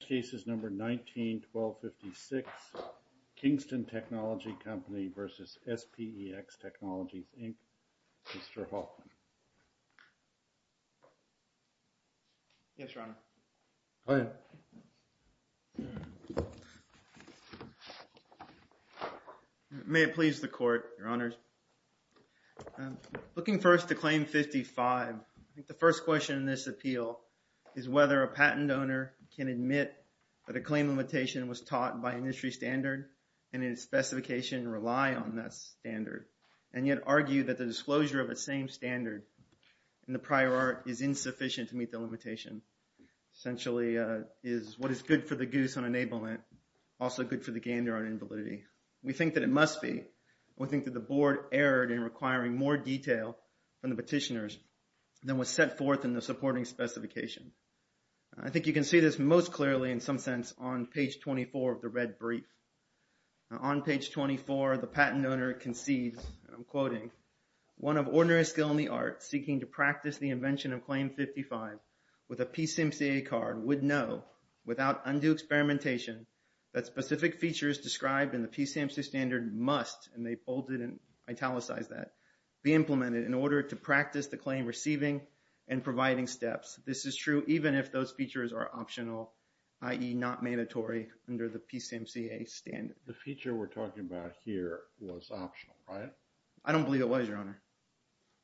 Case is number 19-1256, Kingston Technology Company v. SPEX Technologies, Inc., Mr. Hoffman. Yes, Your Honor. Go ahead. May it please the Court, Your Honors. Looking first to Claim 55, I think the first question in this appeal is whether a patent owner can admit that a claim limitation was taught by industry standard and in its specification rely on that standard and yet argue that the disclosure of the same standard in the prior art is insufficient to meet the limitation. Essentially, is what is good for the goose on enablement also good for the game there on invalidity? We think that it must be. We think that the Board erred in requiring more detail from the petitioners than was set forth in the supporting specification. I think you can see this most clearly in some sense on page 24 of the red brief. On page 24, the patent owner concedes, I'm quoting, one of ordinary skill in the art seeking to practice the invention of Claim 55 with a PCMCA card would know without undue experimentation that specific features described in the PCMCA standard must, and they bolded and italicized that, be implemented in order to practice the claim receiving and providing steps. This is true even if those features are optional, i.e. not mandatory under the PCMCA standard. The feature we're talking about here was optional, right? I don't believe it was, Your Honor.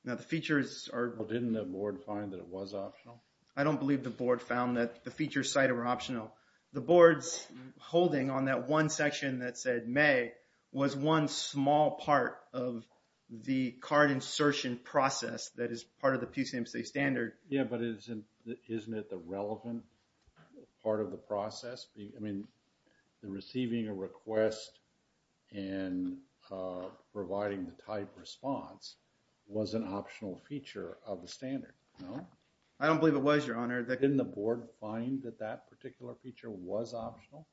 Now, the features are... Well, didn't the Board find that it was optional? I don't believe the Board found that the features cited were optional. The Board's holding on that one section that said may was one small part of the card insertion process that is part of the PCMCA standard. Yeah, but isn't it the relevant part of the process? I mean, the receiving a request and providing the type response was an optional feature of the standard, no? I don't believe it was, Your Honor. Didn't the Board find that that particular feature was optional?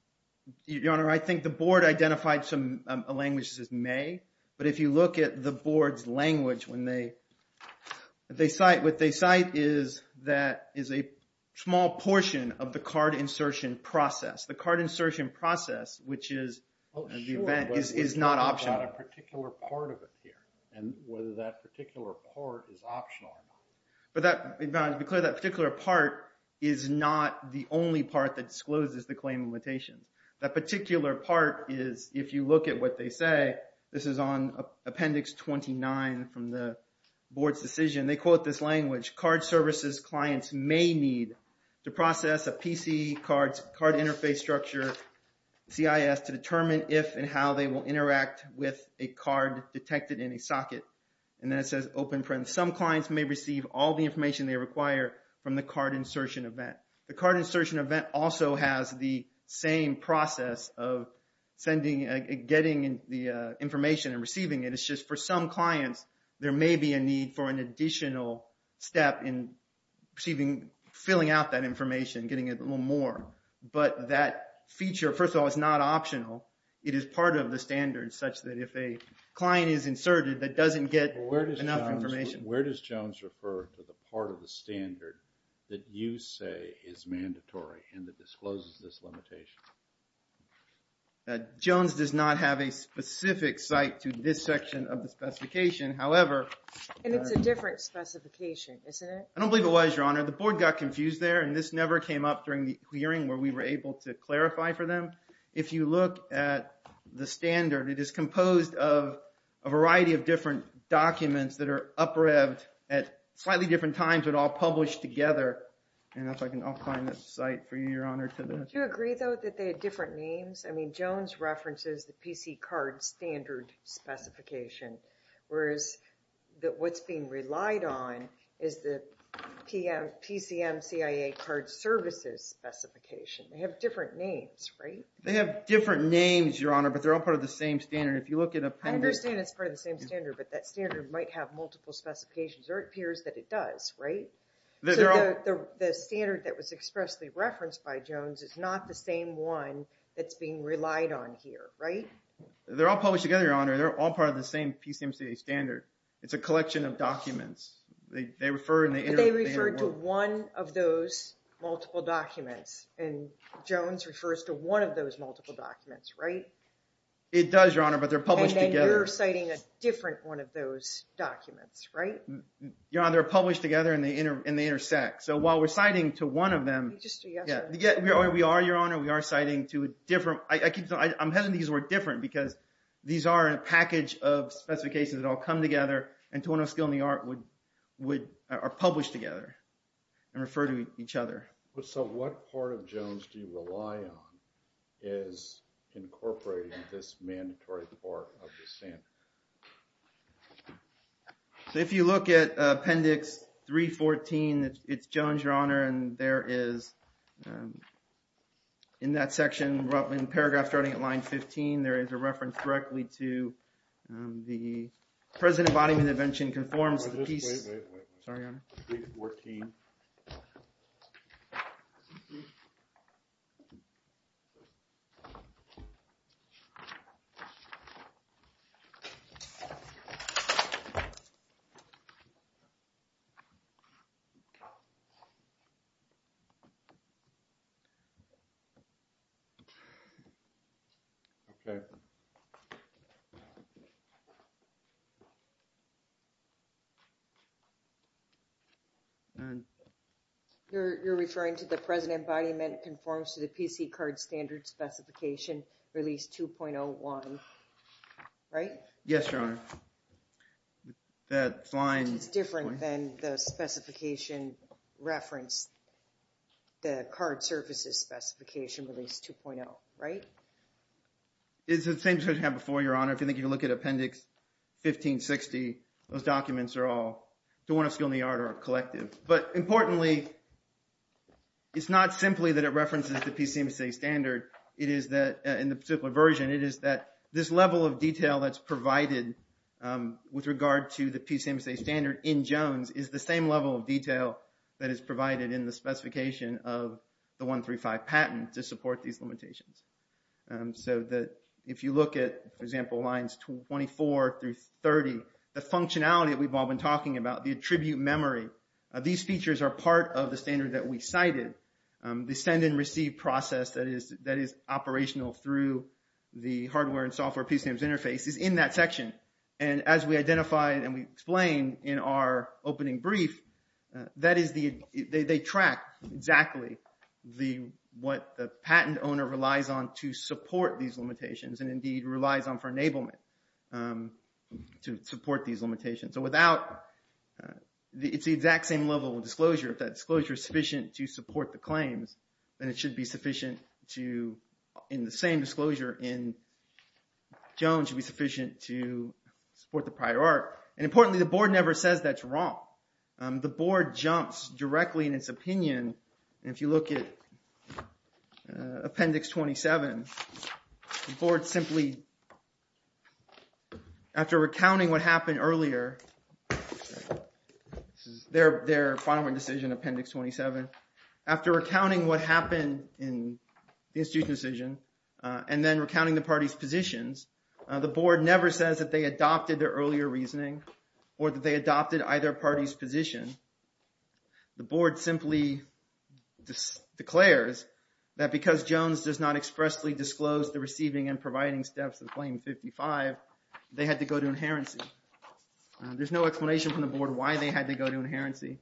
Your Honor, I think the Board identified some languages as may. But if you look at the Board's language when they cite, what they cite is that is a small portion of the card insertion process. The card insertion process, which is the event, is not optional. Well, sure, but we're talking about a particular part of it here and whether that particular part is optional or not. But that, Your Honor, to be clear, that particular part is not the only part that discloses the claim limitations. That particular part is, if you look at what they say, this is on Appendix 29 from the Board's decision. They quote this language, card services clients may need to process a PC card interface structure, CIS, to determine if and how they will interact with a card detected in a socket. And then it says open print. Some clients may receive all the information they require from the card insertion event. The card insertion event also has the same process of sending, getting the information and receiving it. It's just for some clients, there may be a need for an additional step in receiving, filling out that information, getting a little more. But that feature, first of all, is not optional. It is part of the standard such that if a client is inserted that doesn't get enough information. Where does Jones refer to the part of the standard that you say is mandatory and that discloses this limitation? Jones does not have a specific site to this section of the specification. However... And it's a different specification, isn't it? I don't believe it was, Your Honor. The Board got confused there and this never came up during the hearing where we were able to clarify for them. If you look at the standard, it is composed of a variety of different documents that are up-revved at slightly different times but all published together. And if I can, I'll find the site for you, Your Honor. Do you agree, though, that they have different names? I mean, Jones references the PC card standard specification. Whereas what's being relied on is the PCM CIA card services specification. They have different names, right? They have different names, Your Honor, but they're all part of the same standard. If you look at appendix... I understand it's part of the same standard, but that standard might have multiple specifications. It appears that it does, right? The standard that was expressly referenced by Jones is not the same one that's being relied on here, right? They're all published together, Your Honor. They're all part of the same PCM CIA standard. It's a collection of documents. But they refer to one of those multiple documents. And Jones refers to one of those multiple documents, right? It does, Your Honor, but they're published together. And then you're citing a different one of those documents, right? Your Honor, they're published together and they intersect. So while we're citing to one of them... We just did yesterday. We are, Your Honor. We are citing to a different... I'm having these work different because these are a package of specifications that all come together and to one of the skill and the art would... Are published together and refer to each other. So what part of Jones do you rely on is incorporating this mandatory part of the standard? If you look at appendix 314, it's Jones, Your Honor, and there is... In paragraph starting at line 15, there is a reference directly to the... President Bodyman's invention conforms to the piece... Wait, wait, wait. Sorry, Your Honor. 314. Okay. You're referring to the President Bodyman conforms to the PC card standard specification release 2.01, right? Yes, Your Honor. That line... It's the same as we had before, Your Honor. If you think you can look at appendix 1560, those documents are all... To one of skill and the art or collective. But importantly, it's not simply that it references the PCMSA standard. It is that... In the particular version, it is that this level of detail that's provided with regard to the PCMSA standard in Jones is the same level of detail that is provided in the specification of the 135 patent to support these limitations. So that if you look at, for example, lines 24 through 30, the functionality that we've all been talking about, the attribute memory, these features are part of the standard that we cited. The send and receive process that is operational through the hardware and software PCMSA interface is in that section. And as we identified and we explained in our opening brief, that is the... They track exactly what the patent owner relies on to support these limitations and indeed relies on for enablement to support these limitations. So without... It's the exact same level of disclosure. If that disclosure is sufficient to support the claims, then it should be sufficient to... In the same disclosure in Jones, it should be sufficient to support the prior art. And importantly, the board never says that's wrong. The board jumps directly in its opinion. And if you look at Appendix 27, the board simply... After recounting what happened earlier... This is their final decision, Appendix 27. After recounting what happened in the institution decision, and then recounting the parties' positions, the board never says that they adopted their earlier reasoning or that they adopted either party's position. The board simply declares that because Jones does not expressly disclose the receiving and providing steps of Claim 55, they had to go to inherency. There's no explanation from the board why they had to go to inherency.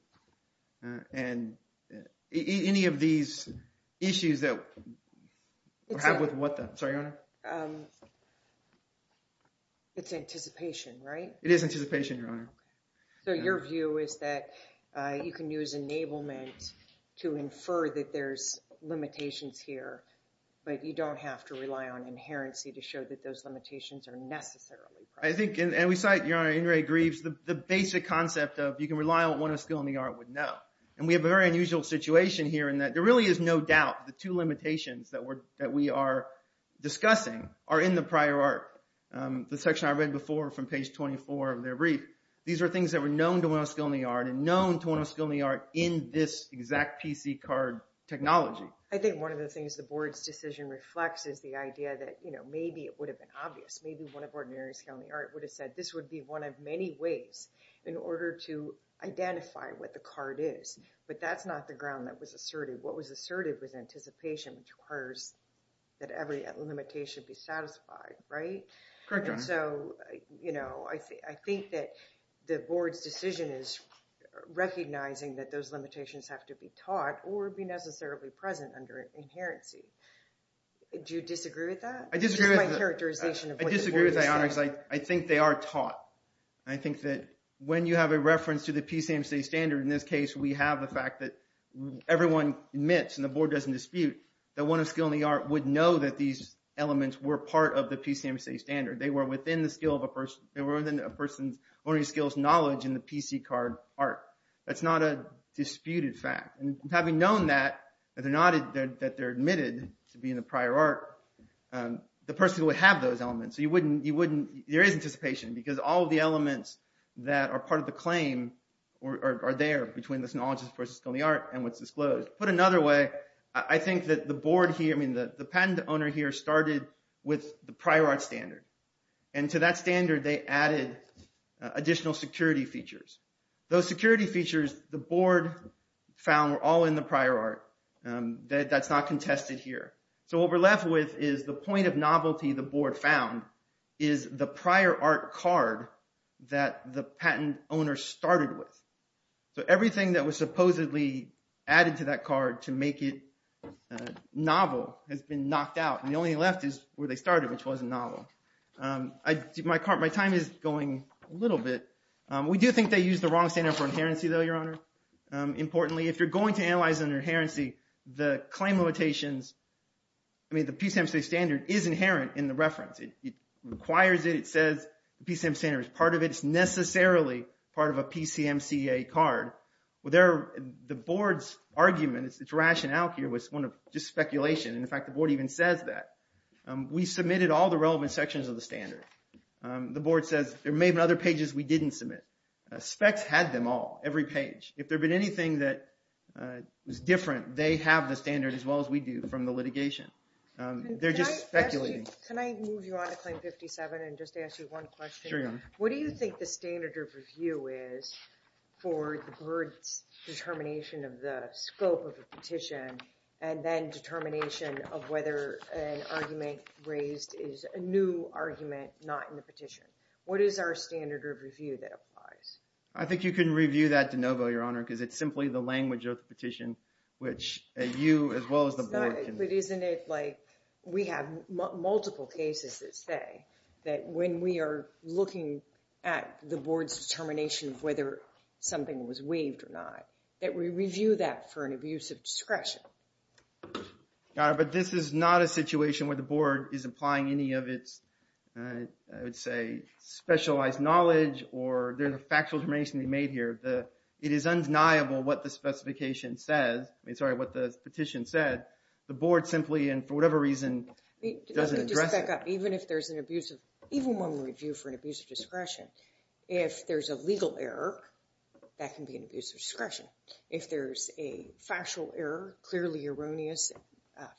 And any of these issues that have with what the... Sorry, Your Honor. It's anticipation, right? It is anticipation, Your Honor. So your view is that you can use enablement to infer that there's limitations here, but you don't have to rely on inherency to show that those limitations are necessarily present. I think, and we cite, Your Honor, Ingray-Greaves, the basic concept of you can rely on what one of skill in the art would know. And we have a very unusual situation here in that there really is no doubt the two limitations that we are discussing are in the prior art. The section I read before from page 24 of their brief, these are things that were known to one of skill in the art and known to one of skill in the art in this exact PC card technology. I think one of the things the board's decision reflects is the idea that maybe it would have been obvious. Maybe one of ordinary skill in the art would have said, this would be one of many ways in order to identify what the card is. But that's not the ground that was asserted. What was asserted was anticipation, which requires that every limitation be satisfied, right? Correct, Your Honor. So, you know, I think that the board's decision is recognizing that those limitations have to be taught or be necessarily present under inherency. Do you disagree with that? I disagree with that, Your Honor, because I think they are taught. I think that when you have a reference to the PCMC standard, in this case we have the fact that everyone admits, and the board doesn't dispute, that one of skill in the art would know that these elements were part of the PCMC standard. They were within a person's ordinary skills knowledge in the PC card art. That's not a disputed fact. And having known that, that they're admitted to being the prior art, the person would have those elements. So you wouldn't, you wouldn't, there is anticipation, because all of the elements that are part of the claim are there between this knowledge versus skill in the art and what's disclosed. Put another way, I think that the board here, I mean, the patent owner here started with the prior art standard. And to that standard, they added additional security features. Those security features the board found were all in the prior art. That's not contested here. So what we're left with is the point of novelty the board found is the prior art card that the patent owner started with. So everything that was supposedly added to that card to make it novel has been knocked out. And the only thing left is where they started, which wasn't novel. My time is going a little bit. We do think they used the wrong standard for inherency, though, Your Honor. Importantly, if you're going to analyze an inherency, the claim limitations, I mean, the PCMCA standard is inherent in the reference. It requires it. It says the PCMCA standard is part of it. It's necessarily part of a PCMCA card. The board's argument, its rationale here was one of just speculation. In fact, the board even says that. We submitted all the relevant sections of the standard. The board says there may have been other pages we didn't submit. Specs had them all, every page. If there had been anything that was different, they have the standard as well as we do from the litigation. They're just speculating. Can I move you on to Claim 57 and just ask you one question? Sure, Your Honor. What do you think the standard of review is for the board's determination of the scope of a petition and then determination of whether an argument raised is a new argument not in the petition? What is our standard of review that applies? I think you can review that de novo, Your Honor, because it's simply the language of the petition, which you as well as the board can... But isn't it like we have multiple cases that say that when we are looking at the board's determination of whether something was waived or not, that we review that for an abuse of discretion. Your Honor, but this is not a situation where the board is applying any of its, I would say, specialized knowledge or there's a factual determination we made here. It is undeniable what the specification says. I mean, sorry, what the petition said. The board simply and for whatever reason doesn't address it. Let me just back up. Even if there's an abuse of... Even when we review for an abuse of discretion, if there's a legal error, that can be an abuse of discretion. If there's a factual error, clearly erroneous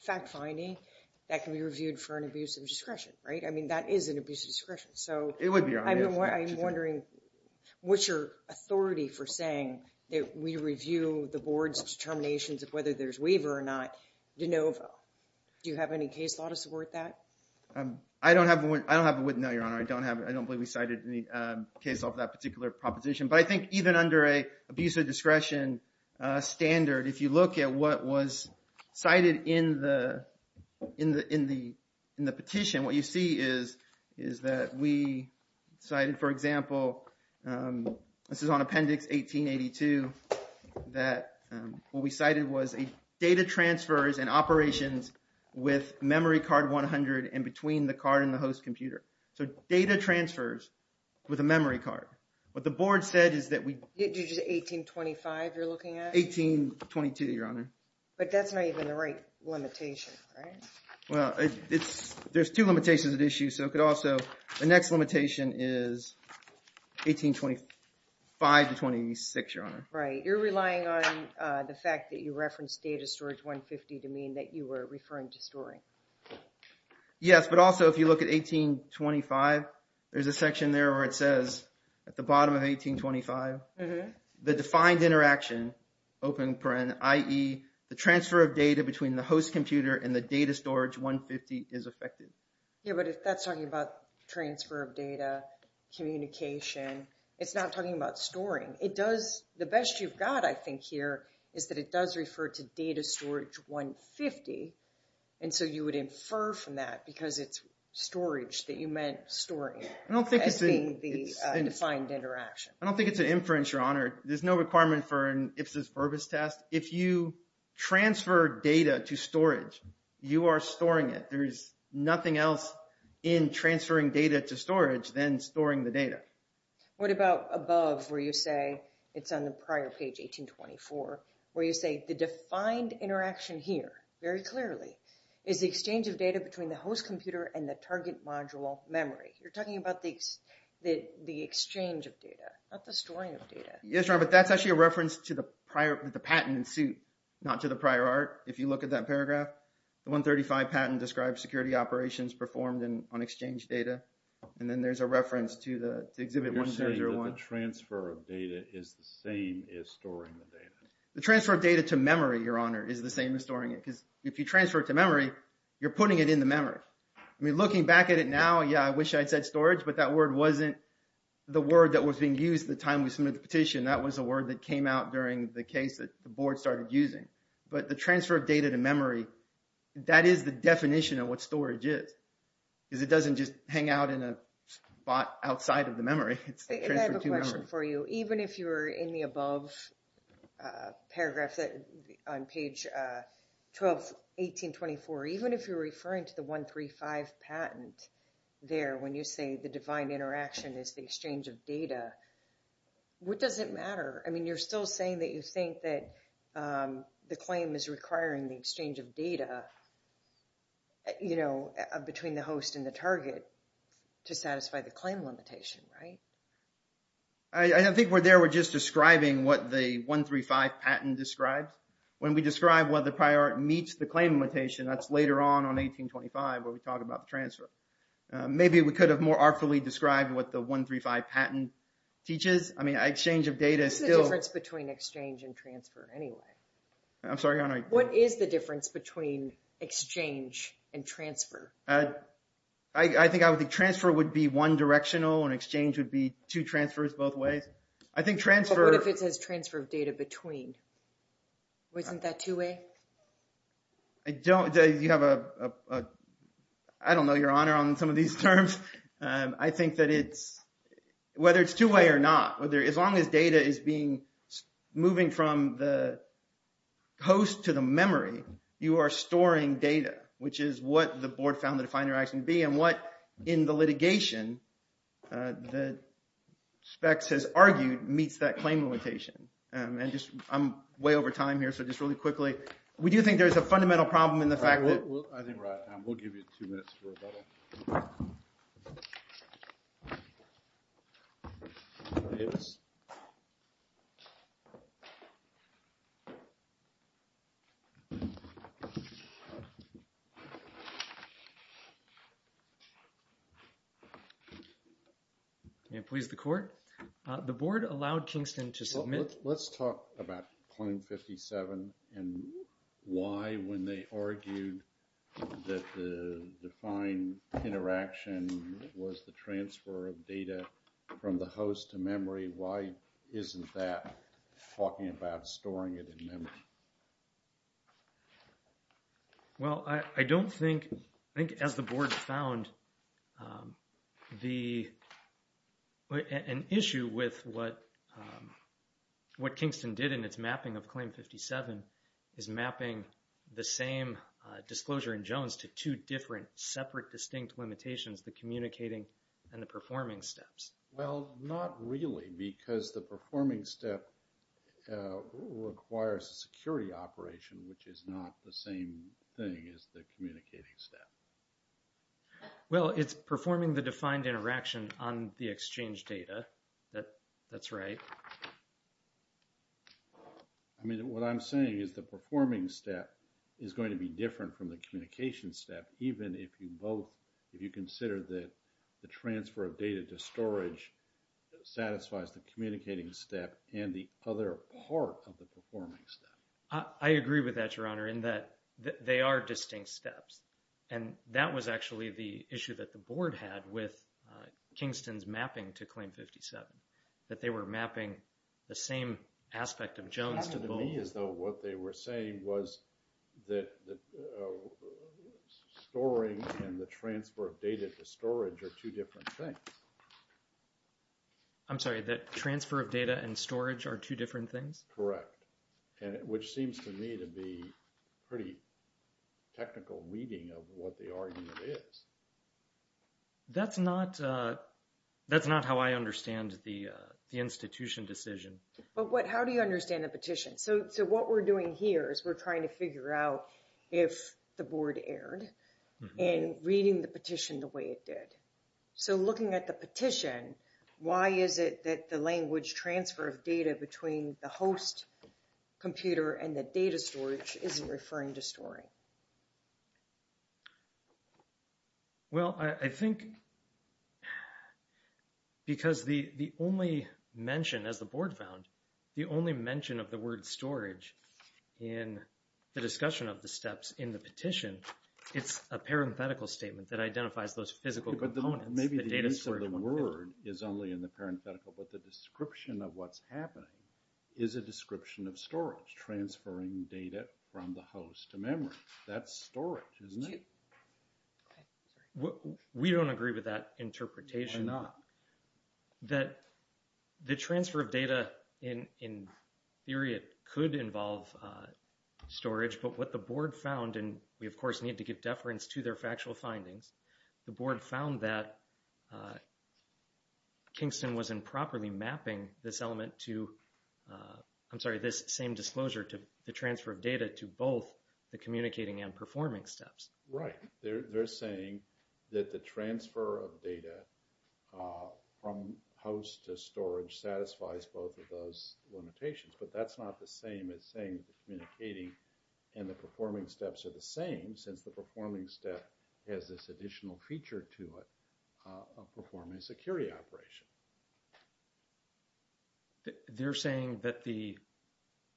fact-finding, that can be reviewed for an abuse of discretion, right? I mean, that is an abuse of discretion. It would be, Your Honor. I'm wondering what's your authority for saying that we review the board's determinations of whether there's waiver or not de novo. Do you have any case law to support that? I don't have one. I don't have one, no, Your Honor. I don't believe we cited any case law for that particular proposition. But I think even under an abuse of discretion standard, if you look at what was cited in the petition, what you see is that we cited, for example, this is on Appendix 1882, that what we cited was data transfers and operations with memory card 100 in between the card and the host computer. So data transfers with a memory card. What the board said is that we... Did you just say 1825 you're looking at? 1822, Your Honor. But that's not even the right limitation, right? Well, there's two limitations at issue, so it could also... The next limitation is 1825 to 1826, Your Honor. Right. You're relying on the fact that you referenced data storage 150 to mean that you were referring to storing. Yes, but also if you look at 1825, there's a section there where it says, at the bottom of 1825, the defined interaction, open paren, i.e., the transfer of data between the host computer and the data storage 150 is affected. Yeah, but if that's talking about transfer of data, communication, it's not talking about storing. The best you've got, I think, here is that it does refer to data storage 150, and so you would infer from that because it's storage that you meant storing as being the defined interaction. I don't think it's an inference, Your Honor. There's no requirement for an IFSIS verbose test. If you transfer data to storage, you are storing it. There's nothing else in transferring data to storage than storing the data. What about above where you say it's on the prior page, 1824, where you say the defined interaction here very clearly is the exchange of data between the host computer and the target module memory. You're talking about the exchange of data, not the storing of data. Yes, Your Honor, but that's actually a reference to the patent in suit, not to the prior art. If you look at that paragraph, the 135 patent describes security operations performed on exchange data, and then there's a reference to exhibit 1301. You're saying that the transfer of data is the same as storing the data. The transfer of data to memory, Your Honor, is the same as storing it because if you transfer it to memory, you're putting it in the memory. I mean, looking back at it now, yeah, I wish I'd said storage, but that word wasn't the word that was being used the time we submitted the petition. That was a word that came out during the case that the board started using. But the transfer of data to memory, that is the definition of what storage is because it doesn't just hang out in a spot outside of the memory. It's the transfer to memory. And I have a question for you. Even if you're in the above paragraph on page 12, 1824, even if you're referring to the 135 patent there when you say the defined interaction is the exchange of data, what does it matter? I mean, you're still saying that you think that the claim is requiring the exchange of data, you know, between the host and the target to satisfy the claim limitation, right? I don't think we're there. We're just describing what the 135 patent describes. When we describe whether the prior meets the claim limitation, that's later on, on 1825, where we talk about the transfer. Maybe we could have more artfully described what the 135 patent teaches. I mean, exchange of data is still- What's the difference between exchange and transfer anyway? I'm sorry, Your Honor. What is the difference between exchange and transfer? I think I would think transfer would be one directional and exchange would be two transfers both ways. I think transfer- What if it says transfer of data between? Wasn't that two-way? I don't know your honor on some of these terms. I think that it's, whether it's two-way or not, as long as data is moving from the host to the memory, you are storing data, which is what the board found the definer action to be and what, in the litigation, the specs has argued meets that claim limitation. I'm way over time here, so just really quickly. We do think there's a fundamental problem in the fact that- I think we're out of time. We'll give you two minutes for rebuttal. May it please the court. The board allowed Kingston to submit- that the defined interaction was the transfer of data from the host to memory. Why isn't that talking about storing it in memory? Well, I don't think, I think as the board found, an issue with what Kingston did in its mapping of Claim 57 is mapping the same disclosure in Jones to two different separate distinct limitations, the communicating and the performing steps. Well, not really, because the performing step requires a security operation, which is not the same thing as the communicating step. Well, it's performing the defined interaction on the exchange data. That's right. I mean, what I'm saying is the performing step is going to be different from the communication step, even if you both, if you consider that the transfer of data to storage satisfies the communicating step and the other part of the performing step. I agree with that, Your Honor, in that they are distinct steps. And that was actually the issue that the board had with Kingston's mapping to Claim 57, that they were mapping the same aspect of Jones to both- It sounded to me as though what they were saying was that storing and the transfer of data to storage are two different things. I'm sorry, that transfer of data and storage are two different things? Correct, which seems to me to be pretty technical weeding of what the argument is. That's not how I understand the institution decision. But how do you understand the petition? So what we're doing here is we're trying to figure out if the board erred in reading the petition the way it did. So looking at the petition, why is it that the language transfer of data between the host computer and the data storage isn't referring to storing? Well, I think because the only mention, as the board found, the only mention of the word storage in the discussion of the steps in the petition, it's a parenthetical statement that identifies those physical components. Maybe the use of the word is only in the parenthetical, but the description of what's happening is a description of storage, transferring data from the host to memory. That's storage, isn't it? We don't agree with that interpretation. Why not? The transfer of data, in theory, it could involve storage, but what the board found, and we of course need to give deference to their factual findings, the board found that Kingston was improperly mapping this element to, I'm sorry, this same disclosure to the transfer of data to both the communicating and performing steps. Right. They're saying that the transfer of data from host to storage satisfies both of those limitations, but that's not the same as saying the communicating and the performing steps are the same, since the performing step has this additional feature to it of performing a security operation. They're saying that the,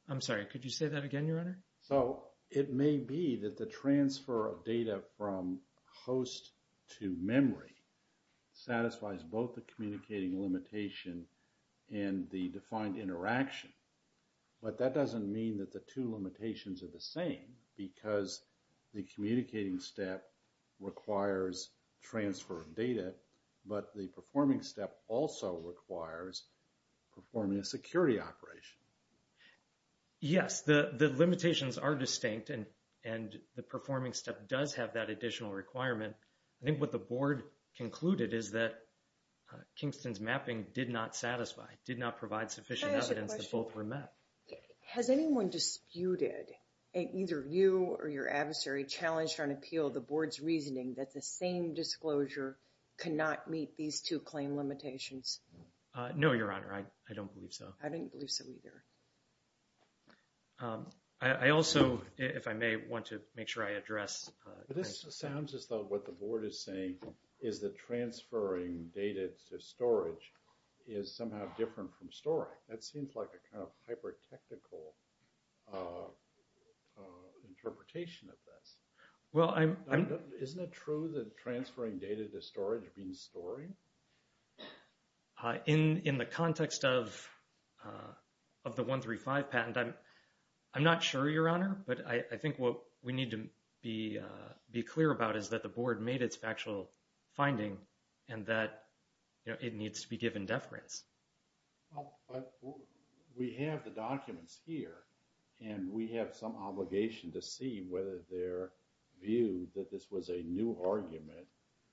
I'm sorry, could you say that again, Your Honor? So, it may be that the transfer of data from host to memory satisfies both the communicating limitation and the defined interaction, but that doesn't mean that the two limitations are the same, because the communicating step requires transfer of data, but the performing step also requires performing a security operation. Yes, the limitations are distinct, and the performing step does have that additional requirement. I think what the board concluded is that Kingston's mapping did not satisfy, did not provide sufficient evidence that both were met. Can I ask a question? Has anyone disputed, either you or your adversary, challenged or appealed the board's reasoning that the same disclosure cannot meet these two claim limitations? No, Your Honor, I don't believe so. I don't believe so either. I also, if I may, want to make sure I address... This sounds as though what the board is saying is that transferring data to storage is somehow different from storing. That seems like a kind of hyper-technical interpretation of this. Well, I'm... Isn't it true that transferring data to storage means storing? In the context of the 135 patent, I'm not sure, Your Honor, but I think what we need to be clear about is that the board made its factual finding and that it needs to be given deference. But we have the documents here, and we have some obligation to see whether their view that this was a new argument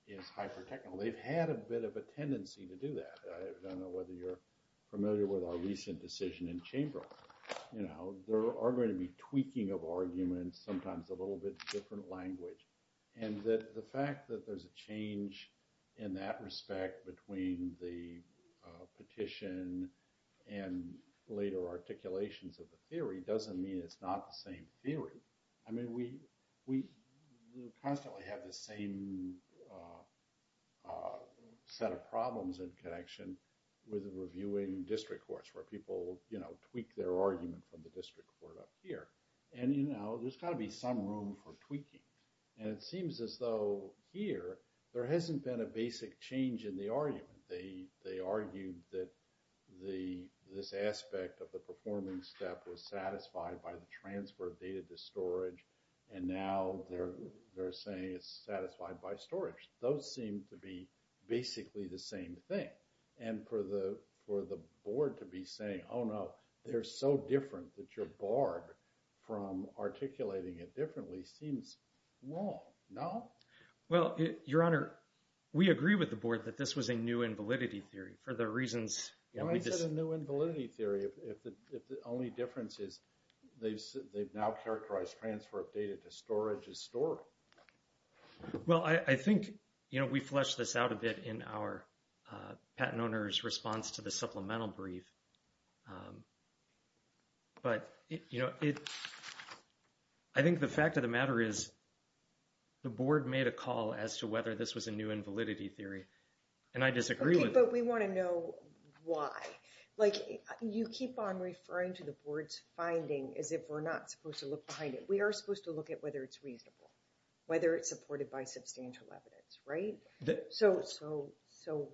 is hyper-technical. They've had a bit of a tendency to do that. I don't know whether you're familiar with our recent decision in Chamberlain. There are going to be tweaking of arguments, sometimes a little bit different language. And the fact that there's a change in that respect between the petition and later articulations of the theory doesn't mean it's not the same theory. I mean, we constantly have the same set of problems in connection with reviewing district courts where people tweak their argument from the district court up here. And there's got to be some room for tweaking. And it seems as though here, there hasn't been a basic change in the argument. They argued that this aspect of the performing step was satisfied by the transfer of data to storage, and now they're saying it's satisfied by storage. Those seem to be basically the same thing. And for the board to be saying, oh, no, they're so different that you're barred from articulating it differently seems wrong, no? Well, Your Honor, we agree with the board that this was a new invalidity theory for the reasons... Why is it a new invalidity theory if the only difference is they've now characterized transfer of data to storage as stored? Well, I think we fleshed this out a bit in our patent owner's response to the supplemental brief. But, you know, I think the fact of the matter is the board made a call as to whether this was a new invalidity theory. And I disagree with it. But we want to know why. Like, you keep on referring to the board's finding as if we're not supposed to look behind it. We are supposed to look at whether it's reasonable, whether it's supported by substantial evidence, right? So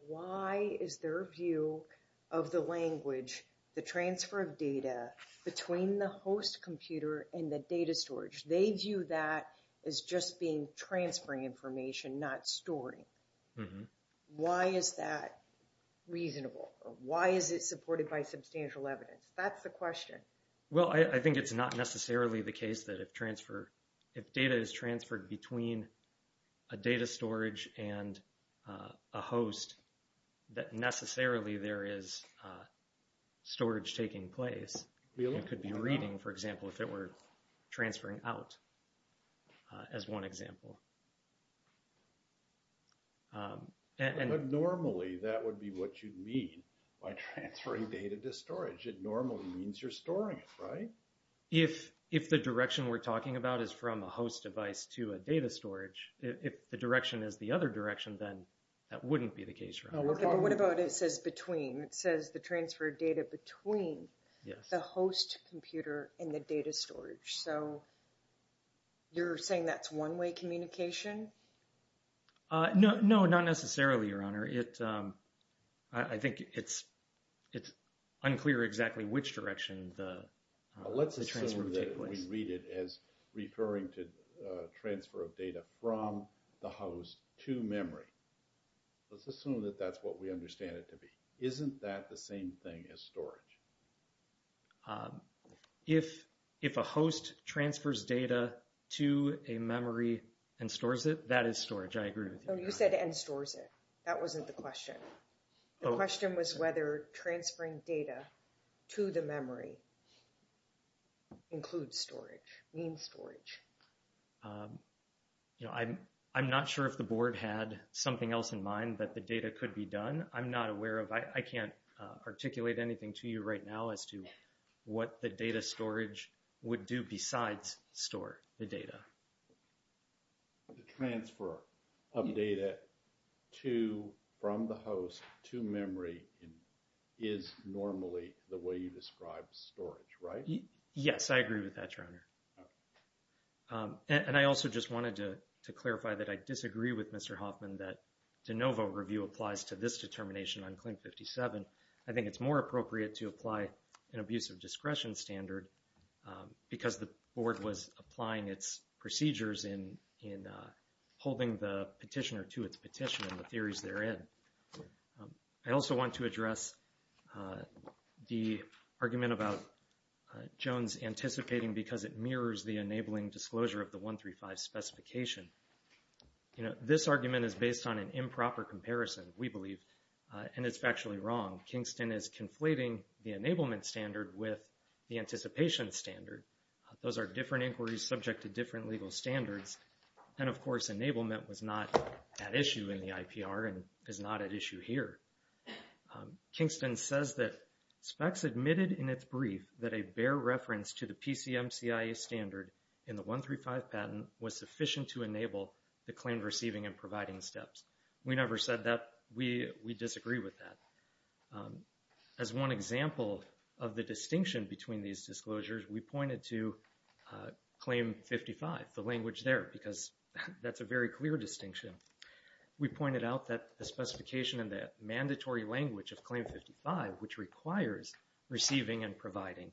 why is their view of the language, the transfer of data between the host computer and the data storage, they view that as just being transferring information, not storing? Why is that reasonable? Why is it supported by substantial evidence? That's the question. Well, I think it's not necessarily the case that if data is transferred between a data storage and a host, that necessarily there is storage taking place. It could be reading, for example, if it were transferring out, as one example. Normally, that would be what you'd mean by transferring data to storage. It normally means you're storing it, right? If the direction we're talking about is from a host device to a data storage, if the direction is the other direction, then that wouldn't be the case, right? Okay, but what about it says between? It says the transfer of data between the host computer and the data storage. So you're saying that's one-way communication? No, not necessarily, Your Honor. I think it's unclear exactly which direction the transfer would take place. Let's assume that we read it as referring to transfer of data from the host to memory. Let's assume that that's what we understand it to be. Isn't that the same thing as storage? If a host transfers data to a memory and stores it, that is storage. I agree with you. You said and stores it. That wasn't the question. The question was whether transferring data to the memory includes storage, means storage. I'm not sure if the Board had something else in mind that the data could be done. I'm not aware of. I can't articulate anything to you right now as to what the data storage would do besides store the data. The transfer of data from the host to memory is normally the way you describe storage, right? Yes, I agree with that, Your Honor. And I also just wanted to clarify that I disagree with Mr. Hoffman that de novo review applies to this determination on claim 57. I think it's more appropriate to apply an abusive discretion standard because the Board was applying its procedures in holding the petitioner to its petition and the theories therein. I also want to address the argument about Jones anticipating because it mirrors the enabling disclosure of the 135 specification. This argument is based on an improper comparison, we believe, and it's factually wrong. Kingston is conflating the enablement standard with the anticipation standard. Those are different inquiries subject to different legal standards. And, of course, enablement was not at issue in the IPR and is not at issue here. Kingston says that specs admitted in its brief that a bare reference to the PCMCIA standard in the 135 patent was sufficient to enable the claim receiving and providing steps. We never said that. We disagree with that. As one example of the distinction between these disclosures, we pointed to claim 55, the language there, because that's a very clear distinction. We pointed out that the specification and the mandatory language of claim 55, which requires receiving and providing,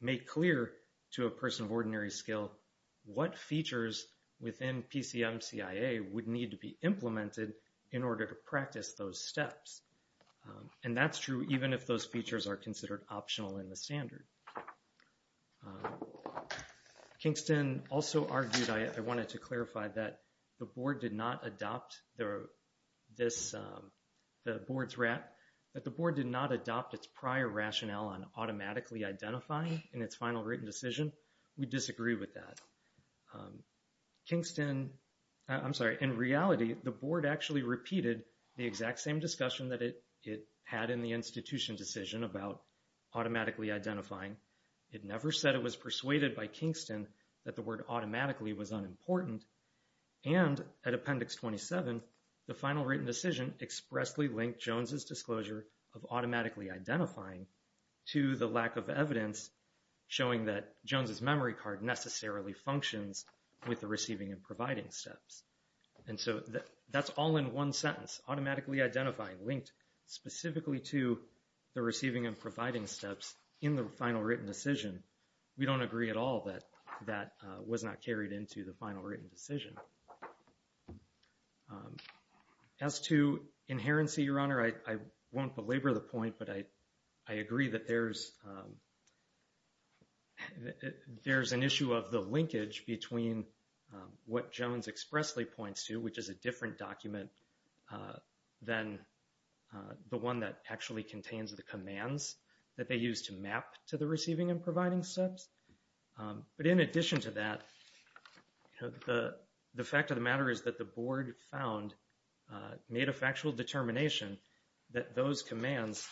make clear to a person of ordinary skill what features within PCMCIA would need to be implemented in order to practice those steps. And that's true even if those features are considered optional in the standard. Kingston also argued, I wanted to clarify, that the board did not adopt the board's prior rationale on automatically identifying in its final written decision. We disagree with that. Kingston, I'm sorry, in reality, the board actually repeated the exact same discussion that it had in the institution decision about automatically identifying. It never said it was persuaded by Kingston that the word automatically was unimportant. And at Appendix 27, the final written decision expressly linked Jones's disclosure of automatically identifying to the lack of evidence showing that Jones's memory card necessarily functions with the receiving and providing steps. And so that's all in one sentence, automatically identifying, linked specifically to the receiving and providing steps in the final written decision. We don't agree at all that that was not carried into the final written decision. As to inherency, Your Honor, I won't belabor the point, but I agree that there's an issue of the linkage between what Jones expressly points to, which is a different document than the one that actually contains the commands that they use to map to the receiving and providing steps. But in addition to that, the fact of the matter is that the board found, made a factual determination that those commands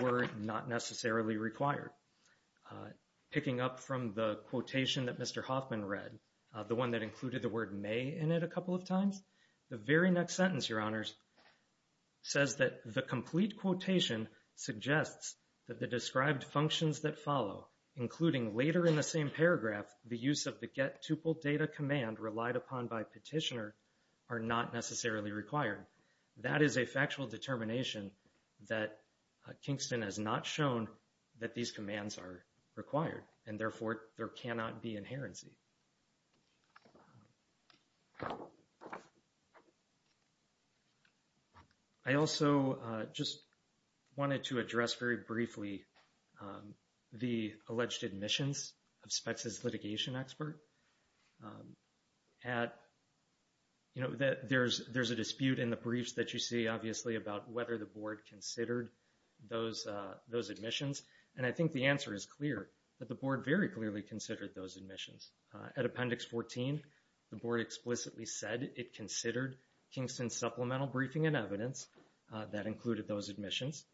were not necessarily required. Picking up from the quotation that Mr. Hoffman read, the one that included the word may in it a couple of times, the very next sentence, Your Honors, says that the complete quotation suggests that the described functions that follow, including later in the same paragraph, the use of the get tuple data command relied upon by petitioner are not necessarily required. That is a factual determination that Kingston has not shown that these commands are required and therefore there cannot be inherency. I also just wanted to address very briefly the alleged admissions of Spetz's litigation expert. At, you know, there's a dispute in the briefs that you see, obviously, about whether the board considered those admissions. And I think the answer is clear that the board very clearly considered those admissions. At Appendix 14, the board explicitly said it considered Kingston supplemental briefing and evidence that included those admissions.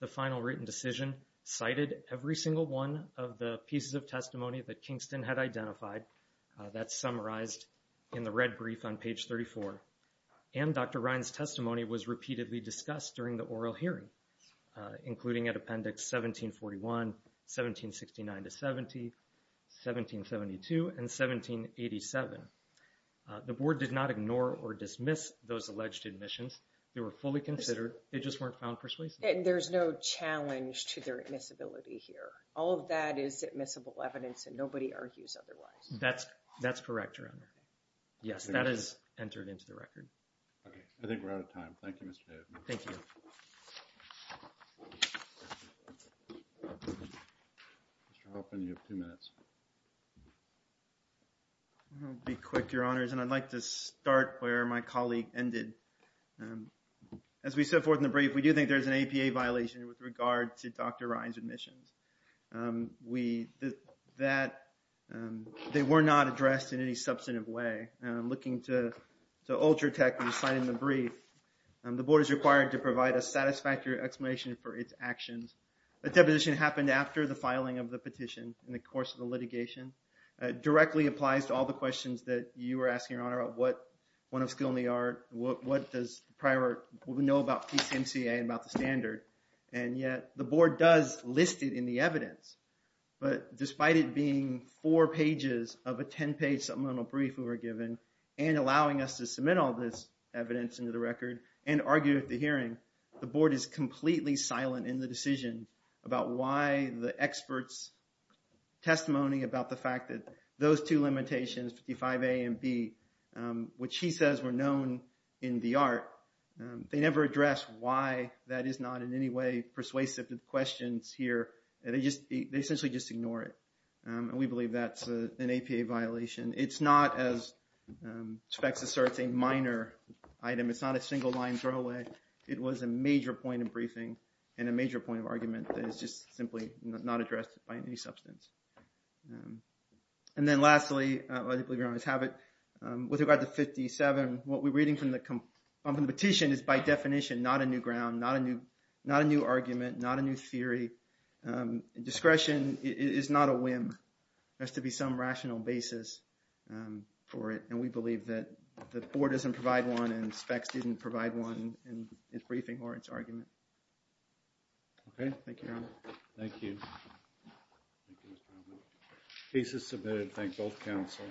The final written decision cited every single one of the pieces of testimony that Kingston had identified that summarized in the red brief on page 34. And Dr. Ryan's testimony was repeatedly discussed during the oral hearing, including at Appendix 1741, 1769 to 70, 1772 and 1787. The board did not ignore or dismiss those alleged admissions. They were fully considered. They just weren't found persuasive. And there's no challenge to their admissibility here. All of that is admissible evidence and nobody argues otherwise. That's that's correct. Yes, that is entered into the record. I think we're out of time. Thank you, Mr. Thank you. Mr. Hoffman, you have two minutes. Be quick, your honors, and I'd like to start where my colleague ended. As we set forth in the brief, we do think there's an APA violation with regard to Dr. Ryan's admissions. We did that. They were not addressed in any substantive way. I'm looking to to alter tech and sign in the brief. The board is required to provide a satisfactory explanation for its actions. A deposition happened after the filing of the petition in the course of the litigation directly applies to all the questions that you were asking, your honor. What one of skill in the art? What does prior know about PCMCA and about the standard? And yet the board does listed in the evidence. But despite it being four pages of a 10 page supplemental brief, we were given and allowing us to submit all this evidence into the record and argue at the hearing. The board is completely silent in the decision about why the experts. Testimony about the fact that those two limitations, 55 A and B, which he says were known in the art. They never address why that is not in any way persuasive to the questions here. They just they essentially just ignore it. And we believe that's an APA violation. It's not as specs asserts a minor item. It's not a single line throwaway. It was a major point of briefing and a major point of argument that is just simply not addressed by any substance. And then lastly, I believe you always have it with regard to 57. What we're reading from the competition is by definition, not a new ground, not a new, not a new argument, not a new theory. Discretion is not a whim. Has to be some rational basis for it. And we believe that the board doesn't provide one and specs didn't provide one. And it's briefing or its argument. Okay. Thank you. Thank you. This is submitted. Thank both council.